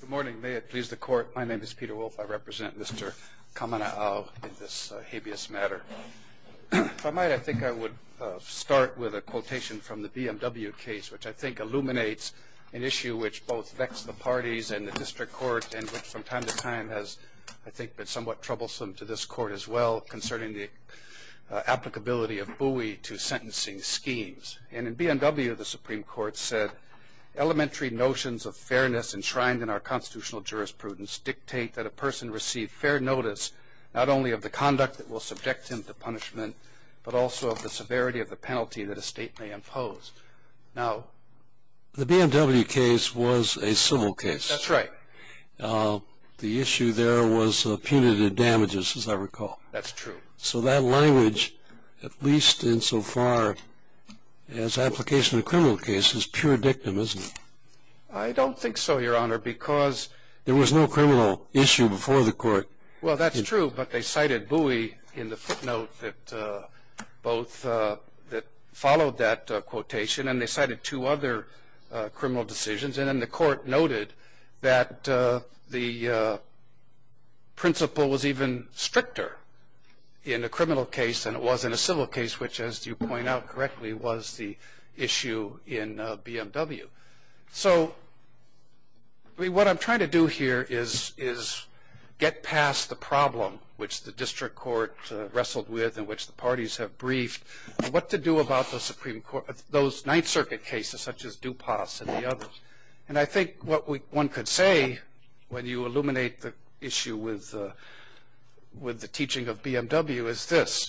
Good morning. May it please the court, my name is Peter Wolfe. I represent Mr. Kamana'o in this habeas matter. If I might, I think I would start with a quotation from the BMW case, which I think illuminates an issue which both vex the parties and the district court and which from time to time has, I think, been somewhat troublesome to this court as well concerning the applicability of buoy to sentencing schemes. And in BMW, the Supreme Court said, elementary notions of fairness enshrined in our constitutional jurisprudence dictate that a person receive fair notice not only of the conduct that will subject him to punishment, but also of the severity of the penalty that a state may impose. Now, the BMW case was a civil case. That's right. The issue there was punitive damages, as I recall. That's true. So that language, at least insofar as application in a criminal case, is pure dictum, isn't it? I don't think so, Your Honor, because there was no criminal issue before the court. Well, that's true, but they cited buoy in the footnote that both followed that quotation, and they cited two other criminal decisions. And then the court noted that the principle was even stricter in a criminal case than it was in a civil case, which, as you point out correctly, was the issue in BMW. So what I'm trying to do here is get past the problem, which the district court wrestled with and which the parties have briefed, and what to do about those Ninth Circuit cases, such as DuPas and the others. And I think what one could say, when you illuminate the issue with the teaching of BMW, is this,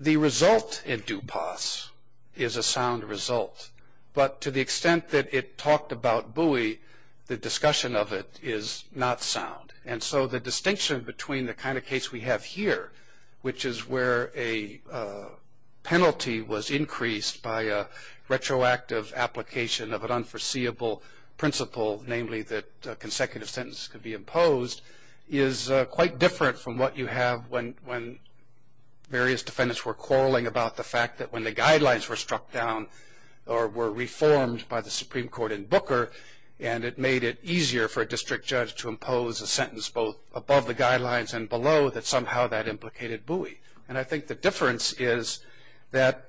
the result in DuPas is a sound result. But to the extent that it talked about buoy, the discussion of it is not sound. And so the distinction between the kind of case we have here, which is where a penalty was increased by a retroactive application of an unforeseeable principle, namely that a consecutive sentence could be imposed, is quite different from what you have when various defendants were quarreling about the fact that when the guidelines were struck down or were reformed by the Supreme Court in Booker, and it made it easier for a district judge to impose a sentence both above the guidelines and below, that somehow that implicated buoy. And I think the difference is that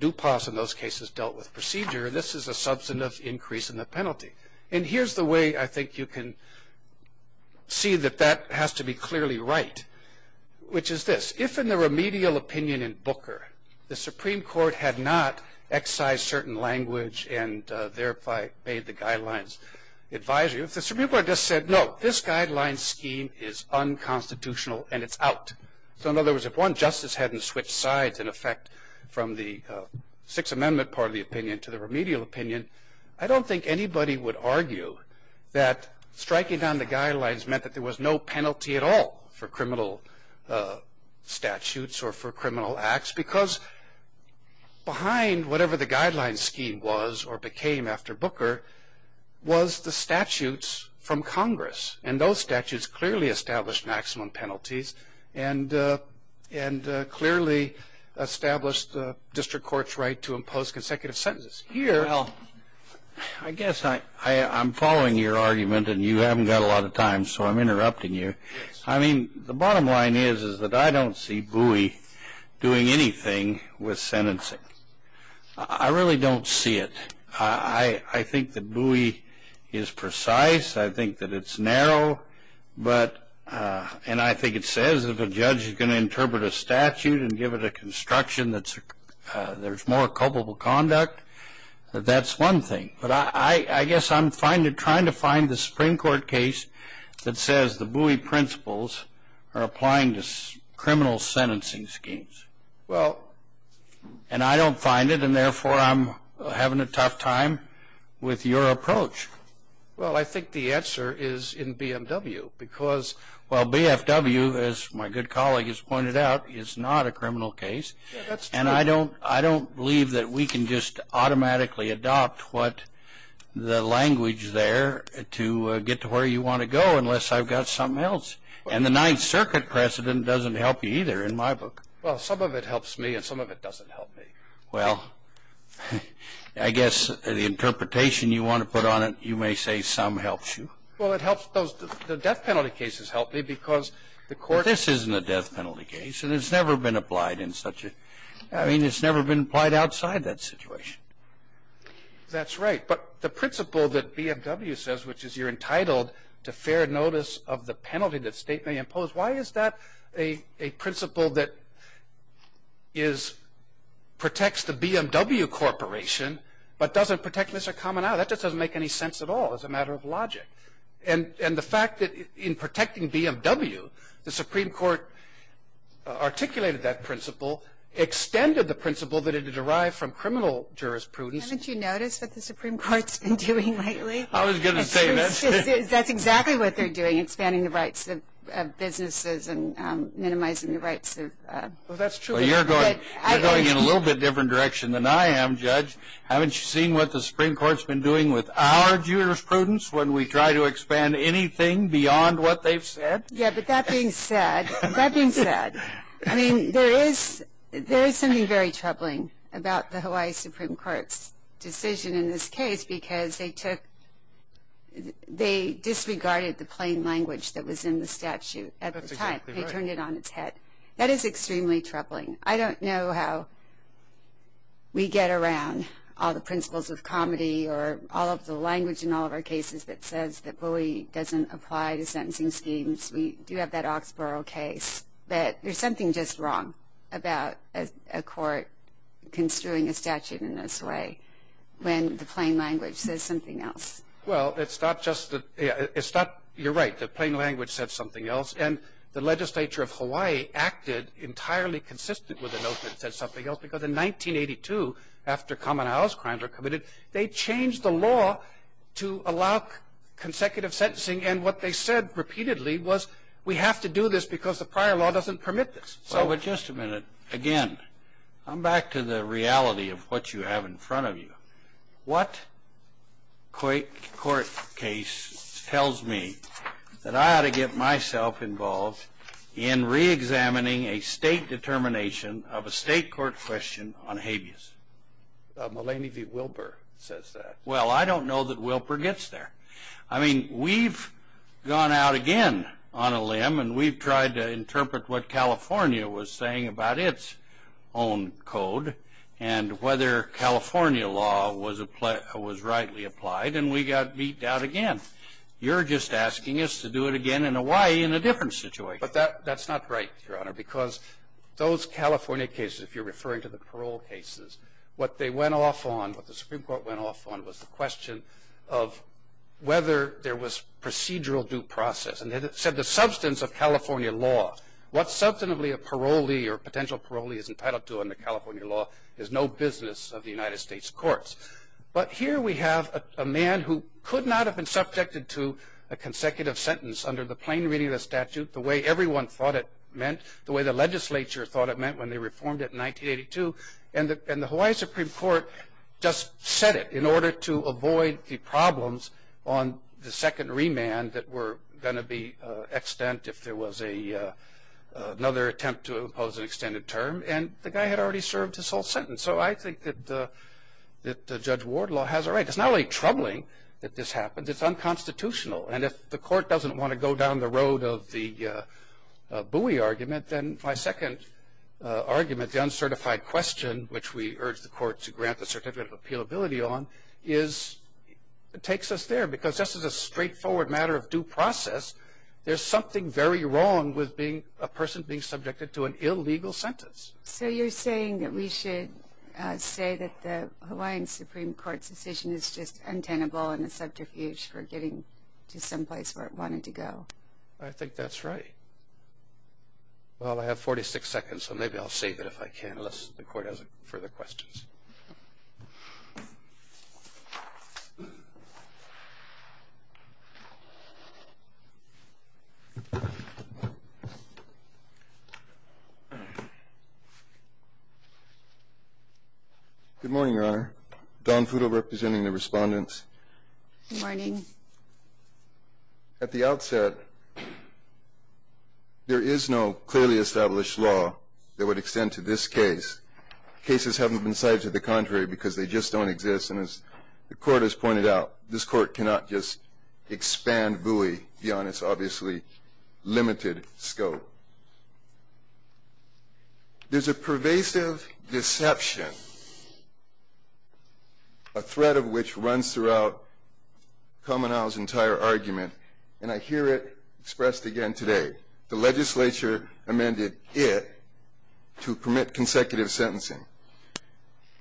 DuPas, in those cases, dealt with procedure. This is a substantive increase in the penalty. And here's the way I think you can see that that has to be clearly right, which is this. If in the remedial opinion in Booker, the Supreme Court had not excised certain language and thereby made the guidelines advisory, if the Supreme Court just said, no, this guideline scheme is unconstitutional, and it's out. So in other words, if one justice hadn't switched sides, in effect, from the Sixth Amendment part of the opinion to the remedial opinion, I don't think anybody would argue that striking down the guidelines meant that there was no penalty at all for criminal statutes or for criminal acts. Because behind whatever the guideline scheme was or became after Booker was the statutes from Congress. And those statutes clearly established maximum penalties and clearly established the district court's right to impose consecutive sentences. Well, I guess I'm following your argument. And you haven't got a lot of time, so I'm interrupting you. I mean, the bottom line is that I don't see Bowie doing anything with sentencing. I really don't see it. I think that Bowie is precise. I think that it's narrow. And I think it says if a judge is going to interpret a statute and give it a construction that there's more culpable conduct, that that's one thing. But I guess I'm trying to find the Supreme Court case that says the Bowie principles are applying to criminal sentencing schemes. And I don't find it, and therefore, I'm having a tough time with your approach. Well, I think the answer is in BMW. Because, well, BFW, as my good colleague has pointed out, is not a criminal case. And I don't believe that we can just automatically adopt the language there to get to where you want to go, unless I've got something else. And the Ninth Circuit precedent doesn't help you either, in my book. Well, some of it helps me, and some of it doesn't help me. Well, I guess the interpretation you want to put on it, you may say some helps you. Well, the death penalty cases help me, because the court But this isn't a death penalty case, and it's never been applied in such a, I mean, it's never been applied outside that situation. That's right. But the principle that BMW says, which is you're entitled to fair notice of the penalty that state may impose, why is that a principle that protects the BMW corporation, but doesn't protect Mr. Kamanawa? That just doesn't make any sense at all, as a matter of logic. And the fact that in protecting BMW, the Supreme Court articulated that principle, extended the principle that it had arrived from criminal jurisprudence. Haven't you noticed what the Supreme Court's been doing lately? I was going to say that. That's exactly what they're doing, expanding the rights of businesses and minimizing the rights of. Well, that's true. But you're going in a little bit different direction than I am, Judge. Haven't you seen what the Supreme Court's been doing with our jurisprudence, when we try to expand anything beyond what they've said? Yeah, but that being said, that being said, I mean, there is something very troubling about the Hawaii Supreme Court's decision in this case, because they disregarded the plain language that was in the statute at the time. They turned it on its head. That is extremely troubling. I don't know how we get around all the principles of comedy or all of the language in all of our cases that says that bully doesn't apply to sentencing schemes. We do have that Oxborough case. But there's something just wrong about a court construing a statute in this way, when the plain language says something else. Well, it's not just that it's not. You're right. The plain language said something else. And the legislature of Hawaii acted entirely consistent with a note that said something else. Because in 1982, after common house crimes were committed, they changed the law to allow consecutive sentencing. And what they said repeatedly was, we have to do this because the prior law doesn't permit this. But just a minute. Again, I'm back to the reality of what you have in front of you. What court case tells me that I ought to get myself involved in reexamining a state determination of a state court question on habeas? Mulaney v. Wilbur says that. Well, I don't know that Wilbur gets there. I mean, we've gone out again on a limb. And we've tried to interpret what California was saying about its own code and whether California law was rightly applied. And we got beat down again. You're just asking us to do it again in Hawaii in a different situation. But that's not right, Your Honor. Because those California cases, if you're referring to the parole cases, what they went off on, what the Supreme Court went off on, was the question of whether there was procedural due process. And it said the substance of California law. What substantively a parolee or potential parolee is entitled to under California law is no business of the United States courts. But here we have a man who could not have been subjected to a consecutive sentence under the plain reading of the statute, the way everyone thought it meant, the way the legislature thought it meant when they reformed it in 1982. And the Hawaii Supreme Court just said it in order to avoid the problems on the second remand that were going to be extant if there was another attempt to impose an extended term. And the guy had already served his whole sentence. So I think that Judge Wardlaw has a right. It's not only troubling that this happened. It's unconstitutional. And if the court doesn't want to go down the road of the Bowie argument, then my second argument, the uncertified question, which we is it takes us there. Because just as a straightforward matter of due process, there's something very wrong with a person being subjected to an illegal sentence. So you're saying that we should say that the Hawaiian Supreme Court's decision is just untenable and a subterfuge for getting to some place where it wanted to go. I think that's right. Well, I have 46 seconds. So maybe I'll save it if I can unless the court has further questions. Thank you. Good morning, Your Honor. Don Fudel representing the respondents. Good morning. At the outset, there is no clearly established law that would extend to this case. Cases haven't been cited to the contrary because they just don't exist. And as the court has pointed out, this court cannot just expand Bowie beyond its obviously limited scope. There's a pervasive deception, a threat of which runs throughout Komenawa's entire argument. And I hear it expressed again today. The legislature amended it to permit consecutive sentencing.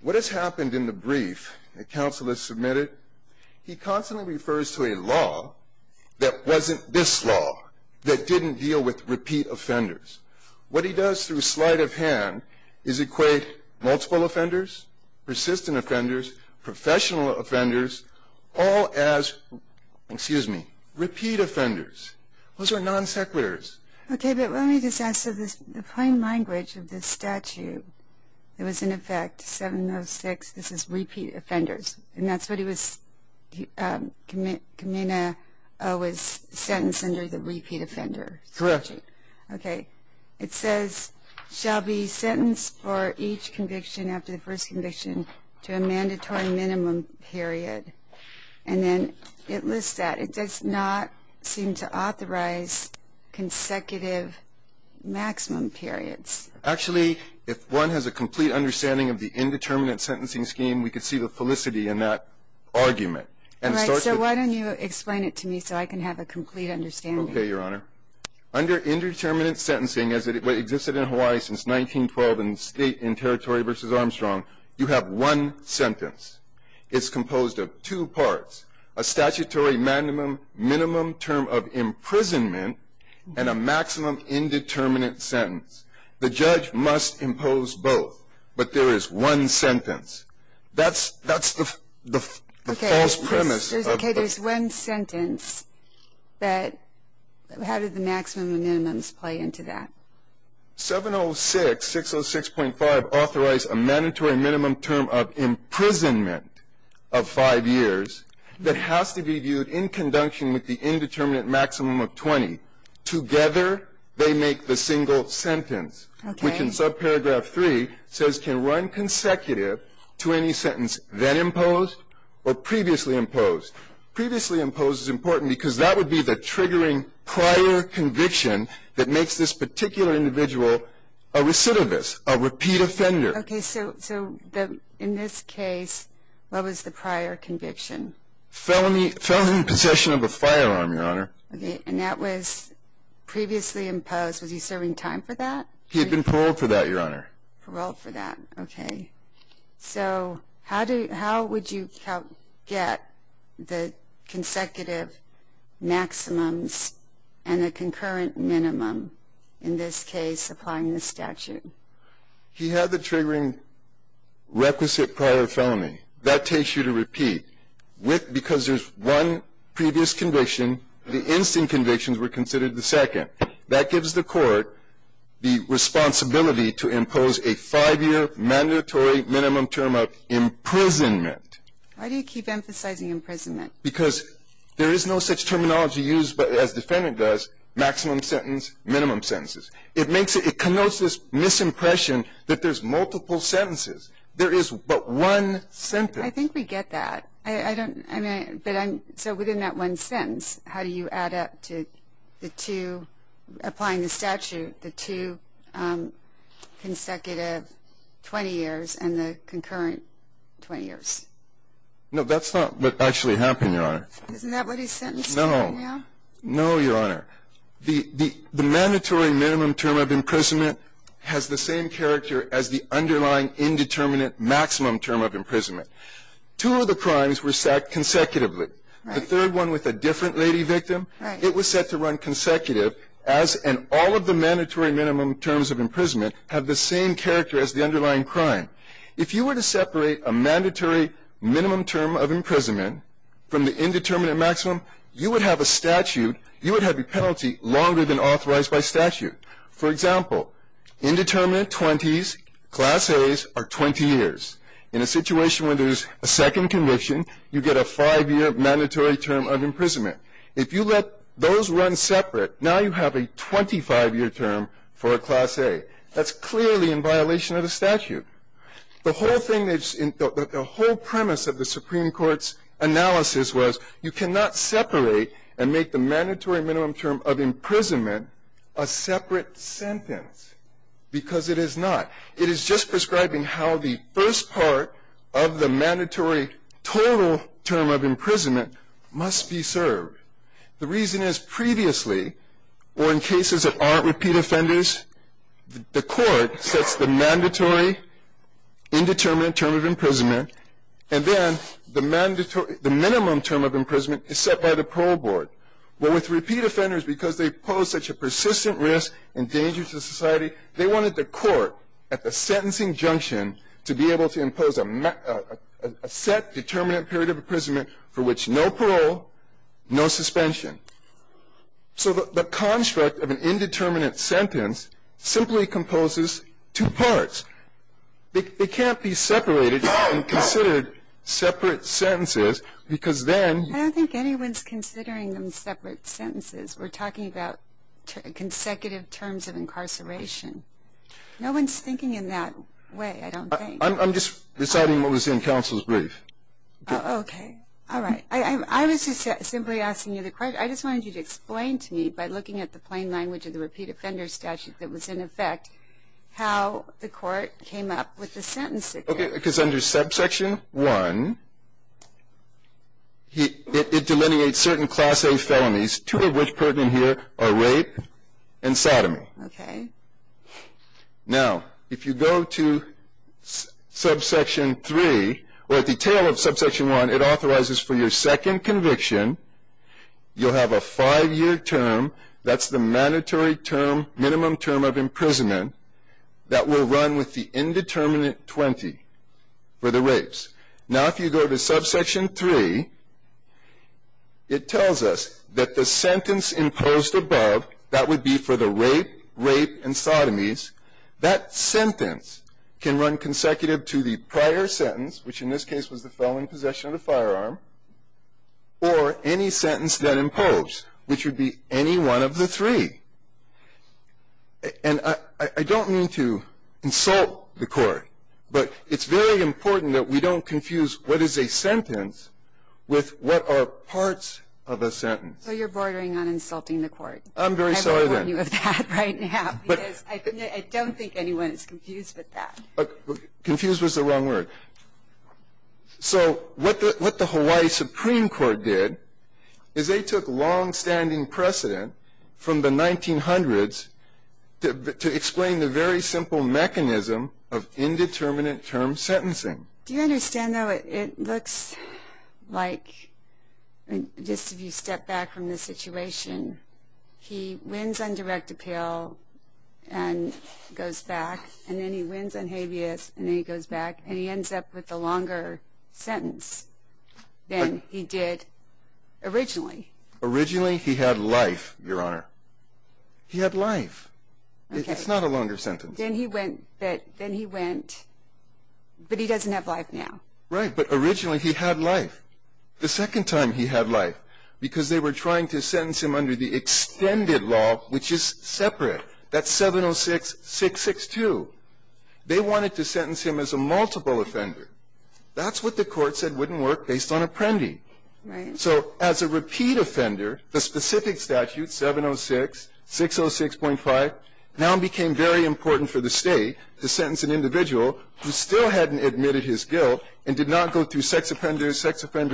What has happened in the brief that counsel has submitted, he constantly refers to a law that wasn't this law, that didn't deal with repeat offenders. What he does through sleight of hand is equate multiple offenders, persistent offenders, professional offenders, all as repeat offenders. Those are non sequiturs. Okay, but let me just ask. So the plain language of this statute, it was in effect 706, this is repeat offenders. And that's what he was, Komenawa was sentenced under the repeat offender statute. Okay, it says shall be sentenced for each conviction after the first conviction to a mandatory minimum period. And then it lists that. It does not seem to authorize consecutive maximum periods. Actually, if one has a complete understanding of the indeterminate sentencing scheme, we could see the felicity in that argument. All right, so why don't you explain it to me so I can have a complete understanding. Okay, Your Honor. Under indeterminate sentencing, as it existed in Hawaii since 1912 in state and territory versus Armstrong, you have one sentence. It's composed of two parts. A statutory minimum term of imprisonment and a maximum indeterminate sentence. The judge must impose both. But there is one sentence. That's the false premise of the- Okay, there's one sentence. But how did the maximum and minimums play into that? 706, 606.5 authorized a mandatory minimum term of imprisonment of five years that has to be viewed in conjunction with the indeterminate maximum of 20. Together, they make the single sentence, which in subparagraph 3 says can run consecutive to any sentence then imposed or previously imposed. Previously imposed is important because that would be the triggering prior conviction that makes this particular individual a recidivist, a repeat offender. Okay, so in this case, what was the prior conviction? Felony possession of a firearm, Your Honor. And that was previously imposed. Was he serving time for that? He had been paroled for that, Your Honor. Paroled for that, okay. So how would you get the consecutive maximums and the concurrent minimum in this case applying the statute? He had the triggering requisite prior felony. That takes you to repeat. Because there's one previous conviction, the instant convictions were considered the second. That gives the court the responsibility to impose a five-year mandatory minimum term of imprisonment. Why do you keep emphasizing imprisonment? Because there is no such terminology used as defendant does, maximum sentence, minimum sentences. It connotes this misimpression that there's multiple sentences. There is but one sentence. I think we get that. I don't, I mean, but I'm, so within that one sentence, how do you add up to the two, applying the statute, the two consecutive 20 years and the concurrent 20 years? No, that's not what actually happened, Your Honor. Isn't that what he's sentencing right now? No, Your Honor. The mandatory minimum term of imprisonment has the same character as the underlying indeterminate maximum term of imprisonment. Two of the crimes were sacked consecutively. The third one with a different lady victim, it was set to run consecutive, as in all of the mandatory minimum terms of imprisonment have the same character as the underlying crime. If you were to separate a mandatory minimum term of imprisonment from the indeterminate maximum, you would have a statute, you would have a penalty longer than authorized by statute. For example, indeterminate 20s, class A's, are 20 years. In a situation where there's a second conviction, you get a five-year mandatory term of imprisonment. If you let those run separate, now you have a 25-year term for a class A. That's clearly in violation of the statute. The whole premise of the Supreme Court's analysis was you cannot separate and make the mandatory minimum term of imprisonment a separate sentence, because it is not. It is just prescribing how the first part of the mandatory total term of imprisonment must be served. The reason is previously, or in cases that aren't repeat offenders, the court sets the mandatory indeterminate term of imprisonment, and then the minimum term of imprisonment is set by the parole board. But with repeat offenders, because they pose such a persistent risk and danger to society, they wanted the court, at the sentencing junction, to be able to impose a set, determinate period of imprisonment for which no parole, no suspension. So the construct of an indeterminate sentence simply composes two parts. They can't be separated and considered separate sentences, because then- I don't think anyone's considering them separate sentences. We're talking about consecutive terms of incarceration. No one's thinking in that way, I don't think. I'm just deciding what was in counsel's brief. OK. All right. I was just simply asking you the question. I just wanted you to explain to me, by looking at the plain language of the repeat offender statute that was in effect, how the court came up with the sentencing. Because under subsection 1, it delineates certain class A felonies, two of which pertinent here are rape and sodomy. OK. Now, if you go to subsection 3, or at the tail of subsection 1, it authorizes for your second conviction, you'll have a five-year term. That's the mandatory term, minimum term of imprisonment, that will run with the indeterminate 20 for the rapes. Now, if you go to subsection 3, it tells us that the sentence imposed above, that would be for the rape, rape, and sodomies, that sentence can run consecutive to the prior sentence, which in this case was the felon in possession of the firearm, or any sentence that imposed, which would be any one of the three. And I don't mean to insult the court, but it's very important that we don't confuse what is a sentence with what are parts of a sentence. So you're bordering on insulting the court. I'm very sorry then. I've warned you of that right now, because I don't think anyone is confused with that. Confused was the wrong word. So what the Hawaii Supreme Court did is they took longstanding precedent from the 1900s to explain the very simple mechanism of indeterminate term sentencing. Do you understand, though, it looks like, just if you step back from the situation, he wins on direct appeal and goes back, and then he wins on habeas, and then he goes back, and he ends up with a longer sentence than he did originally. Originally, he had life, Your Honor. He had life. It's not a longer sentence. Then he went, but he doesn't have life now. Right, but originally he had life. The second time he had life, because they were trying to sentence him under the extended law, which is separate. That's 706-662. They wanted to sentence him as a multiple offender. That's what the court said wouldn't work based on apprendi. So as a repeat offender, the specific statute, 706-606.5, now became very important for the state to sentence an individual who still hadn't admitted his guilt and did not go through sex offender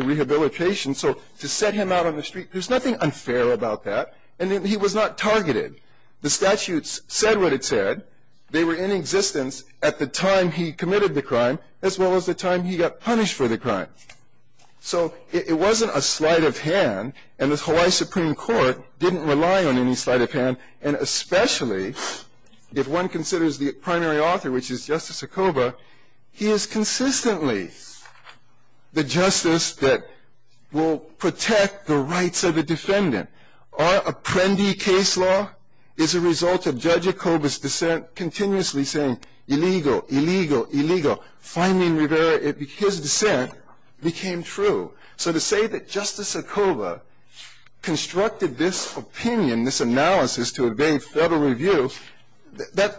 rehabilitation. So to set him out on the street, there's nothing unfair about that. And he was not targeted. The statutes said what it said. They were in existence at the time he committed the crime, as well as the time he got punished for the crime. So it wasn't a sleight of hand, and the Hawaii Supreme Court didn't rely on any sleight of hand. And especially, if one considers the primary author, which is Justice Acoba, he is consistently the justice that will protect the rights of a defendant. Our apprendi case law is a result of Judge Acoba's dissent continuously saying, illegal, illegal, illegal. Finally, in Rivera, his dissent became true. So to say that Justice Acoba constructed this opinion, this analysis to evade federal review,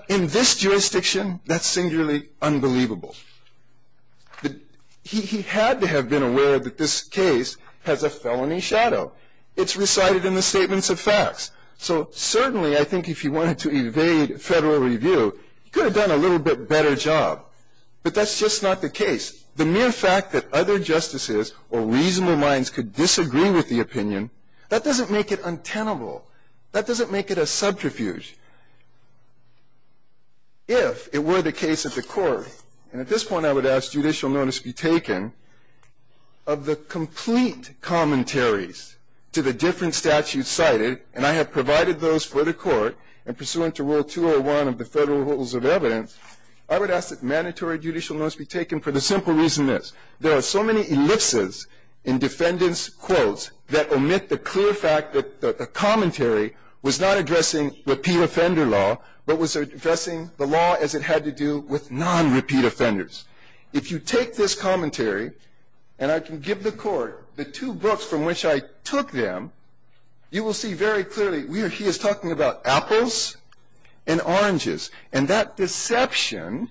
in this jurisdiction, that's singularly unbelievable. He had to have been aware that this case has a felony shadow. It's recited in the statements of facts. So certainly, I think if he wanted to evade federal review, he could have done a little bit better job. But that's just not the case. The mere fact that other justices or reasonable minds could disagree with the opinion, that doesn't make it untenable. That doesn't make it a subterfuge. If it were the case at the court, and at this point, I would ask judicial notice be taken, of the complete commentaries to the different statutes cited, and I have provided those for the court, and pursuant to Rule 201 of the Federal Rules of Evidence, I would ask that mandatory judicial notice be taken for the simple reason this. There are so many ellipses in defendant's quotes that omit the clear fact that the commentary was not addressing repeat offender law, but was addressing the law as it had to do with non-repeat offenders. If you take this commentary, and I can give the court the two books from which I took them, you will see very clearly he is talking about apples and oranges. And that deception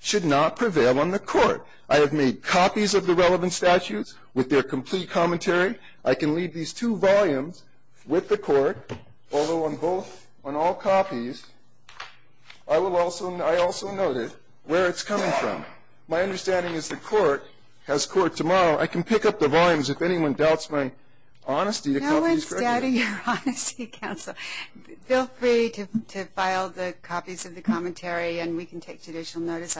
should not prevail on the court. I have made copies of the relevant statutes with their complete commentary. I can leave these two volumes with the court, although on both, on all copies, I also noted where it's coming from. My understanding is the court has court tomorrow. I can pick up the volumes if anyone doubts my honesty to copies. No one's doubting your honesty, counsel. Feel free to file the copies of the commentary, and we can take judicial notice.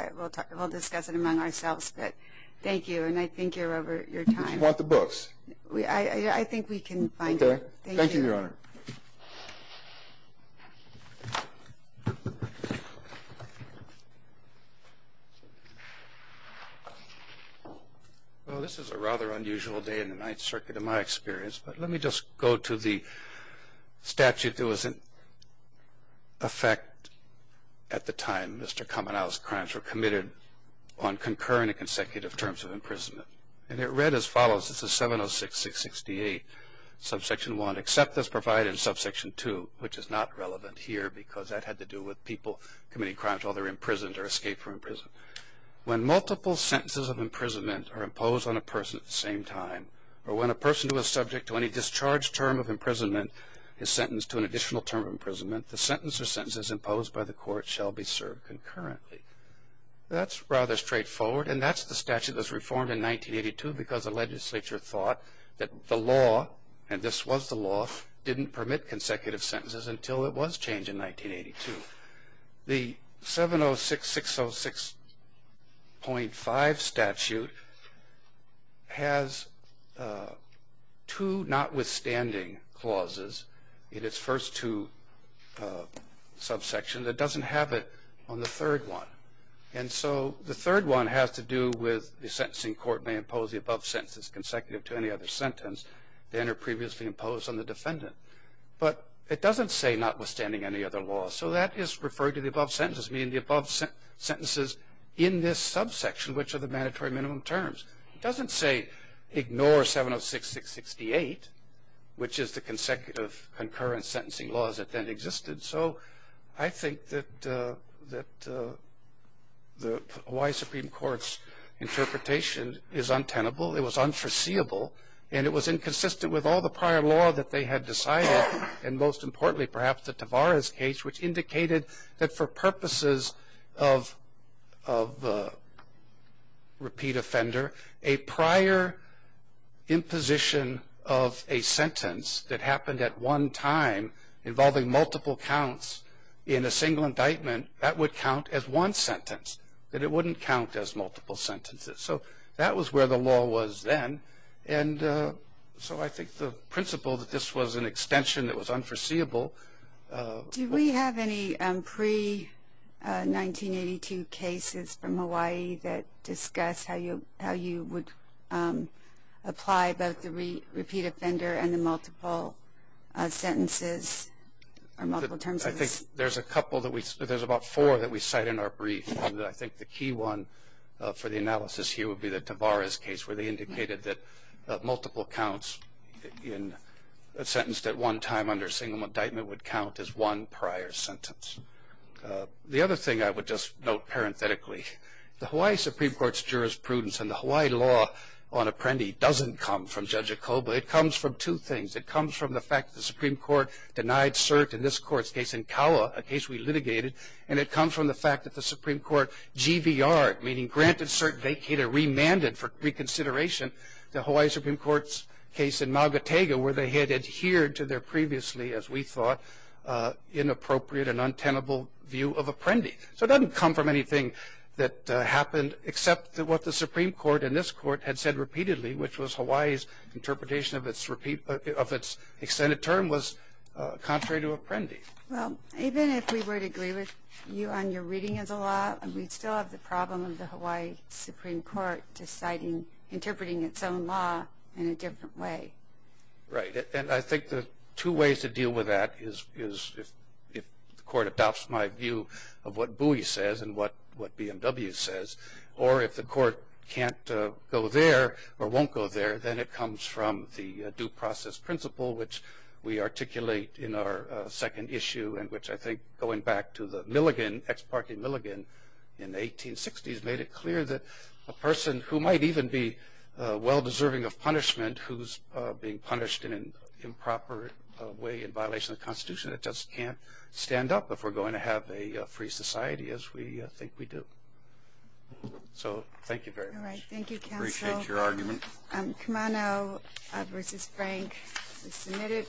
We'll discuss it among ourselves, but thank you. And I think you're over your time. Do you want the books? I think we can find them. OK. Thank you, Your Honor. Well, this is a rather unusual day in the Ninth Circuit, in my experience. But let me just go to the statute that was in effect at the time Mr. Kamenow's crimes were committed on concurrent and consecutive terms of imprisonment. And it read as follows. This is 706-668, subsection 1, except as provided in subsection 2, which is not relevant here, because that had to do with people committing crimes while they were imprisoned or escaped from prison. When multiple sentences of imprisonment are imposed on a person at the same time, or when a person who is subject to any discharged term of imprisonment is sentenced to an additional term of imprisonment, the sentence or sentences imposed by the court shall be served concurrently. That's rather straightforward. And that's the statute that was reformed in 1982, because the legislature thought that the law, and this was the law, didn't permit consecutive sentences until it was changed in 1982. The 706-606.5 statute has two notwithstanding clauses in its first two subsections. It doesn't have it on the third one. And so the third one has to do with the sentencing court may impose the above sentences consecutive to any other sentence than are previously imposed on the defendant. But it doesn't say notwithstanding any other law. So that is referring to the above sentences, meaning the above sentences in this subsection, which are the mandatory minimum terms. It doesn't say ignore 706-668, which is the consecutive concurrent sentencing laws that then existed. So I think that the Hawaii Supreme Court's interpretation is untenable. It was unforeseeable. And it was inconsistent with all the prior law that they had decided. And most importantly, perhaps, the Tavares case, which indicated that for purposes of repeat offender, a prior imposition of a sentence that happened at one time involving multiple counts in a single indictment, that would count as one sentence. That it wouldn't count as multiple sentences. So that was where the law was then. And so I think the principle that this was an extension that was unforeseeable. Do we have any pre-1982 cases from Hawaii that discuss how you would apply both the repeat offender and the multiple sentences or multiple terms? I think there's a couple that we, there's about four that we cite in our brief. I think the key one for the analysis here would be the Tavares case, where they indicated that multiple counts in a sentence that one time under a single indictment would count as one prior sentence. The other thing I would just note parenthetically, the Hawaii Supreme Court's jurisprudence and the Hawaii law on Apprendi doesn't come from Judge Acoba. It comes from two things. It comes from the fact that the Supreme Court denied cert in this court's case in Kaua, a case we litigated. And it comes from the fact that the Supreme Court GVR, meaning granted cert vacated or remanded for reconsideration, the Hawaii Supreme Court's case in Maugatega, where they had adhered to their previously, as we thought, inappropriate and untenable view of Apprendi. So it doesn't come from anything that happened, except that what the Supreme Court in this court had said repeatedly, which was Hawaii's interpretation of its extended term was contrary to Apprendi. Well, even if we were to agree with you on your reading of the law, we'd still have the problem of the Hawaii Supreme Court deciding, interpreting its own law in a different way. Right, and I think the two ways to deal with that is if the court adopts my view of what Bowie says and what BMW says, or if the court can't go there or won't go there, then it comes from the due process principle, which we articulate in our second issue, and which I think, going back to the Milligan, ex parte Milligan in the 1860s, made it clear that a person who might even be well deserving of punishment, who's being punished in an improper way in violation of the Constitution, it just can't stand up if we're going to have a free society, as we think we do. So thank you very much. All right, thank you, counsel. Appreciate your argument. Kamano versus Frank is submitted.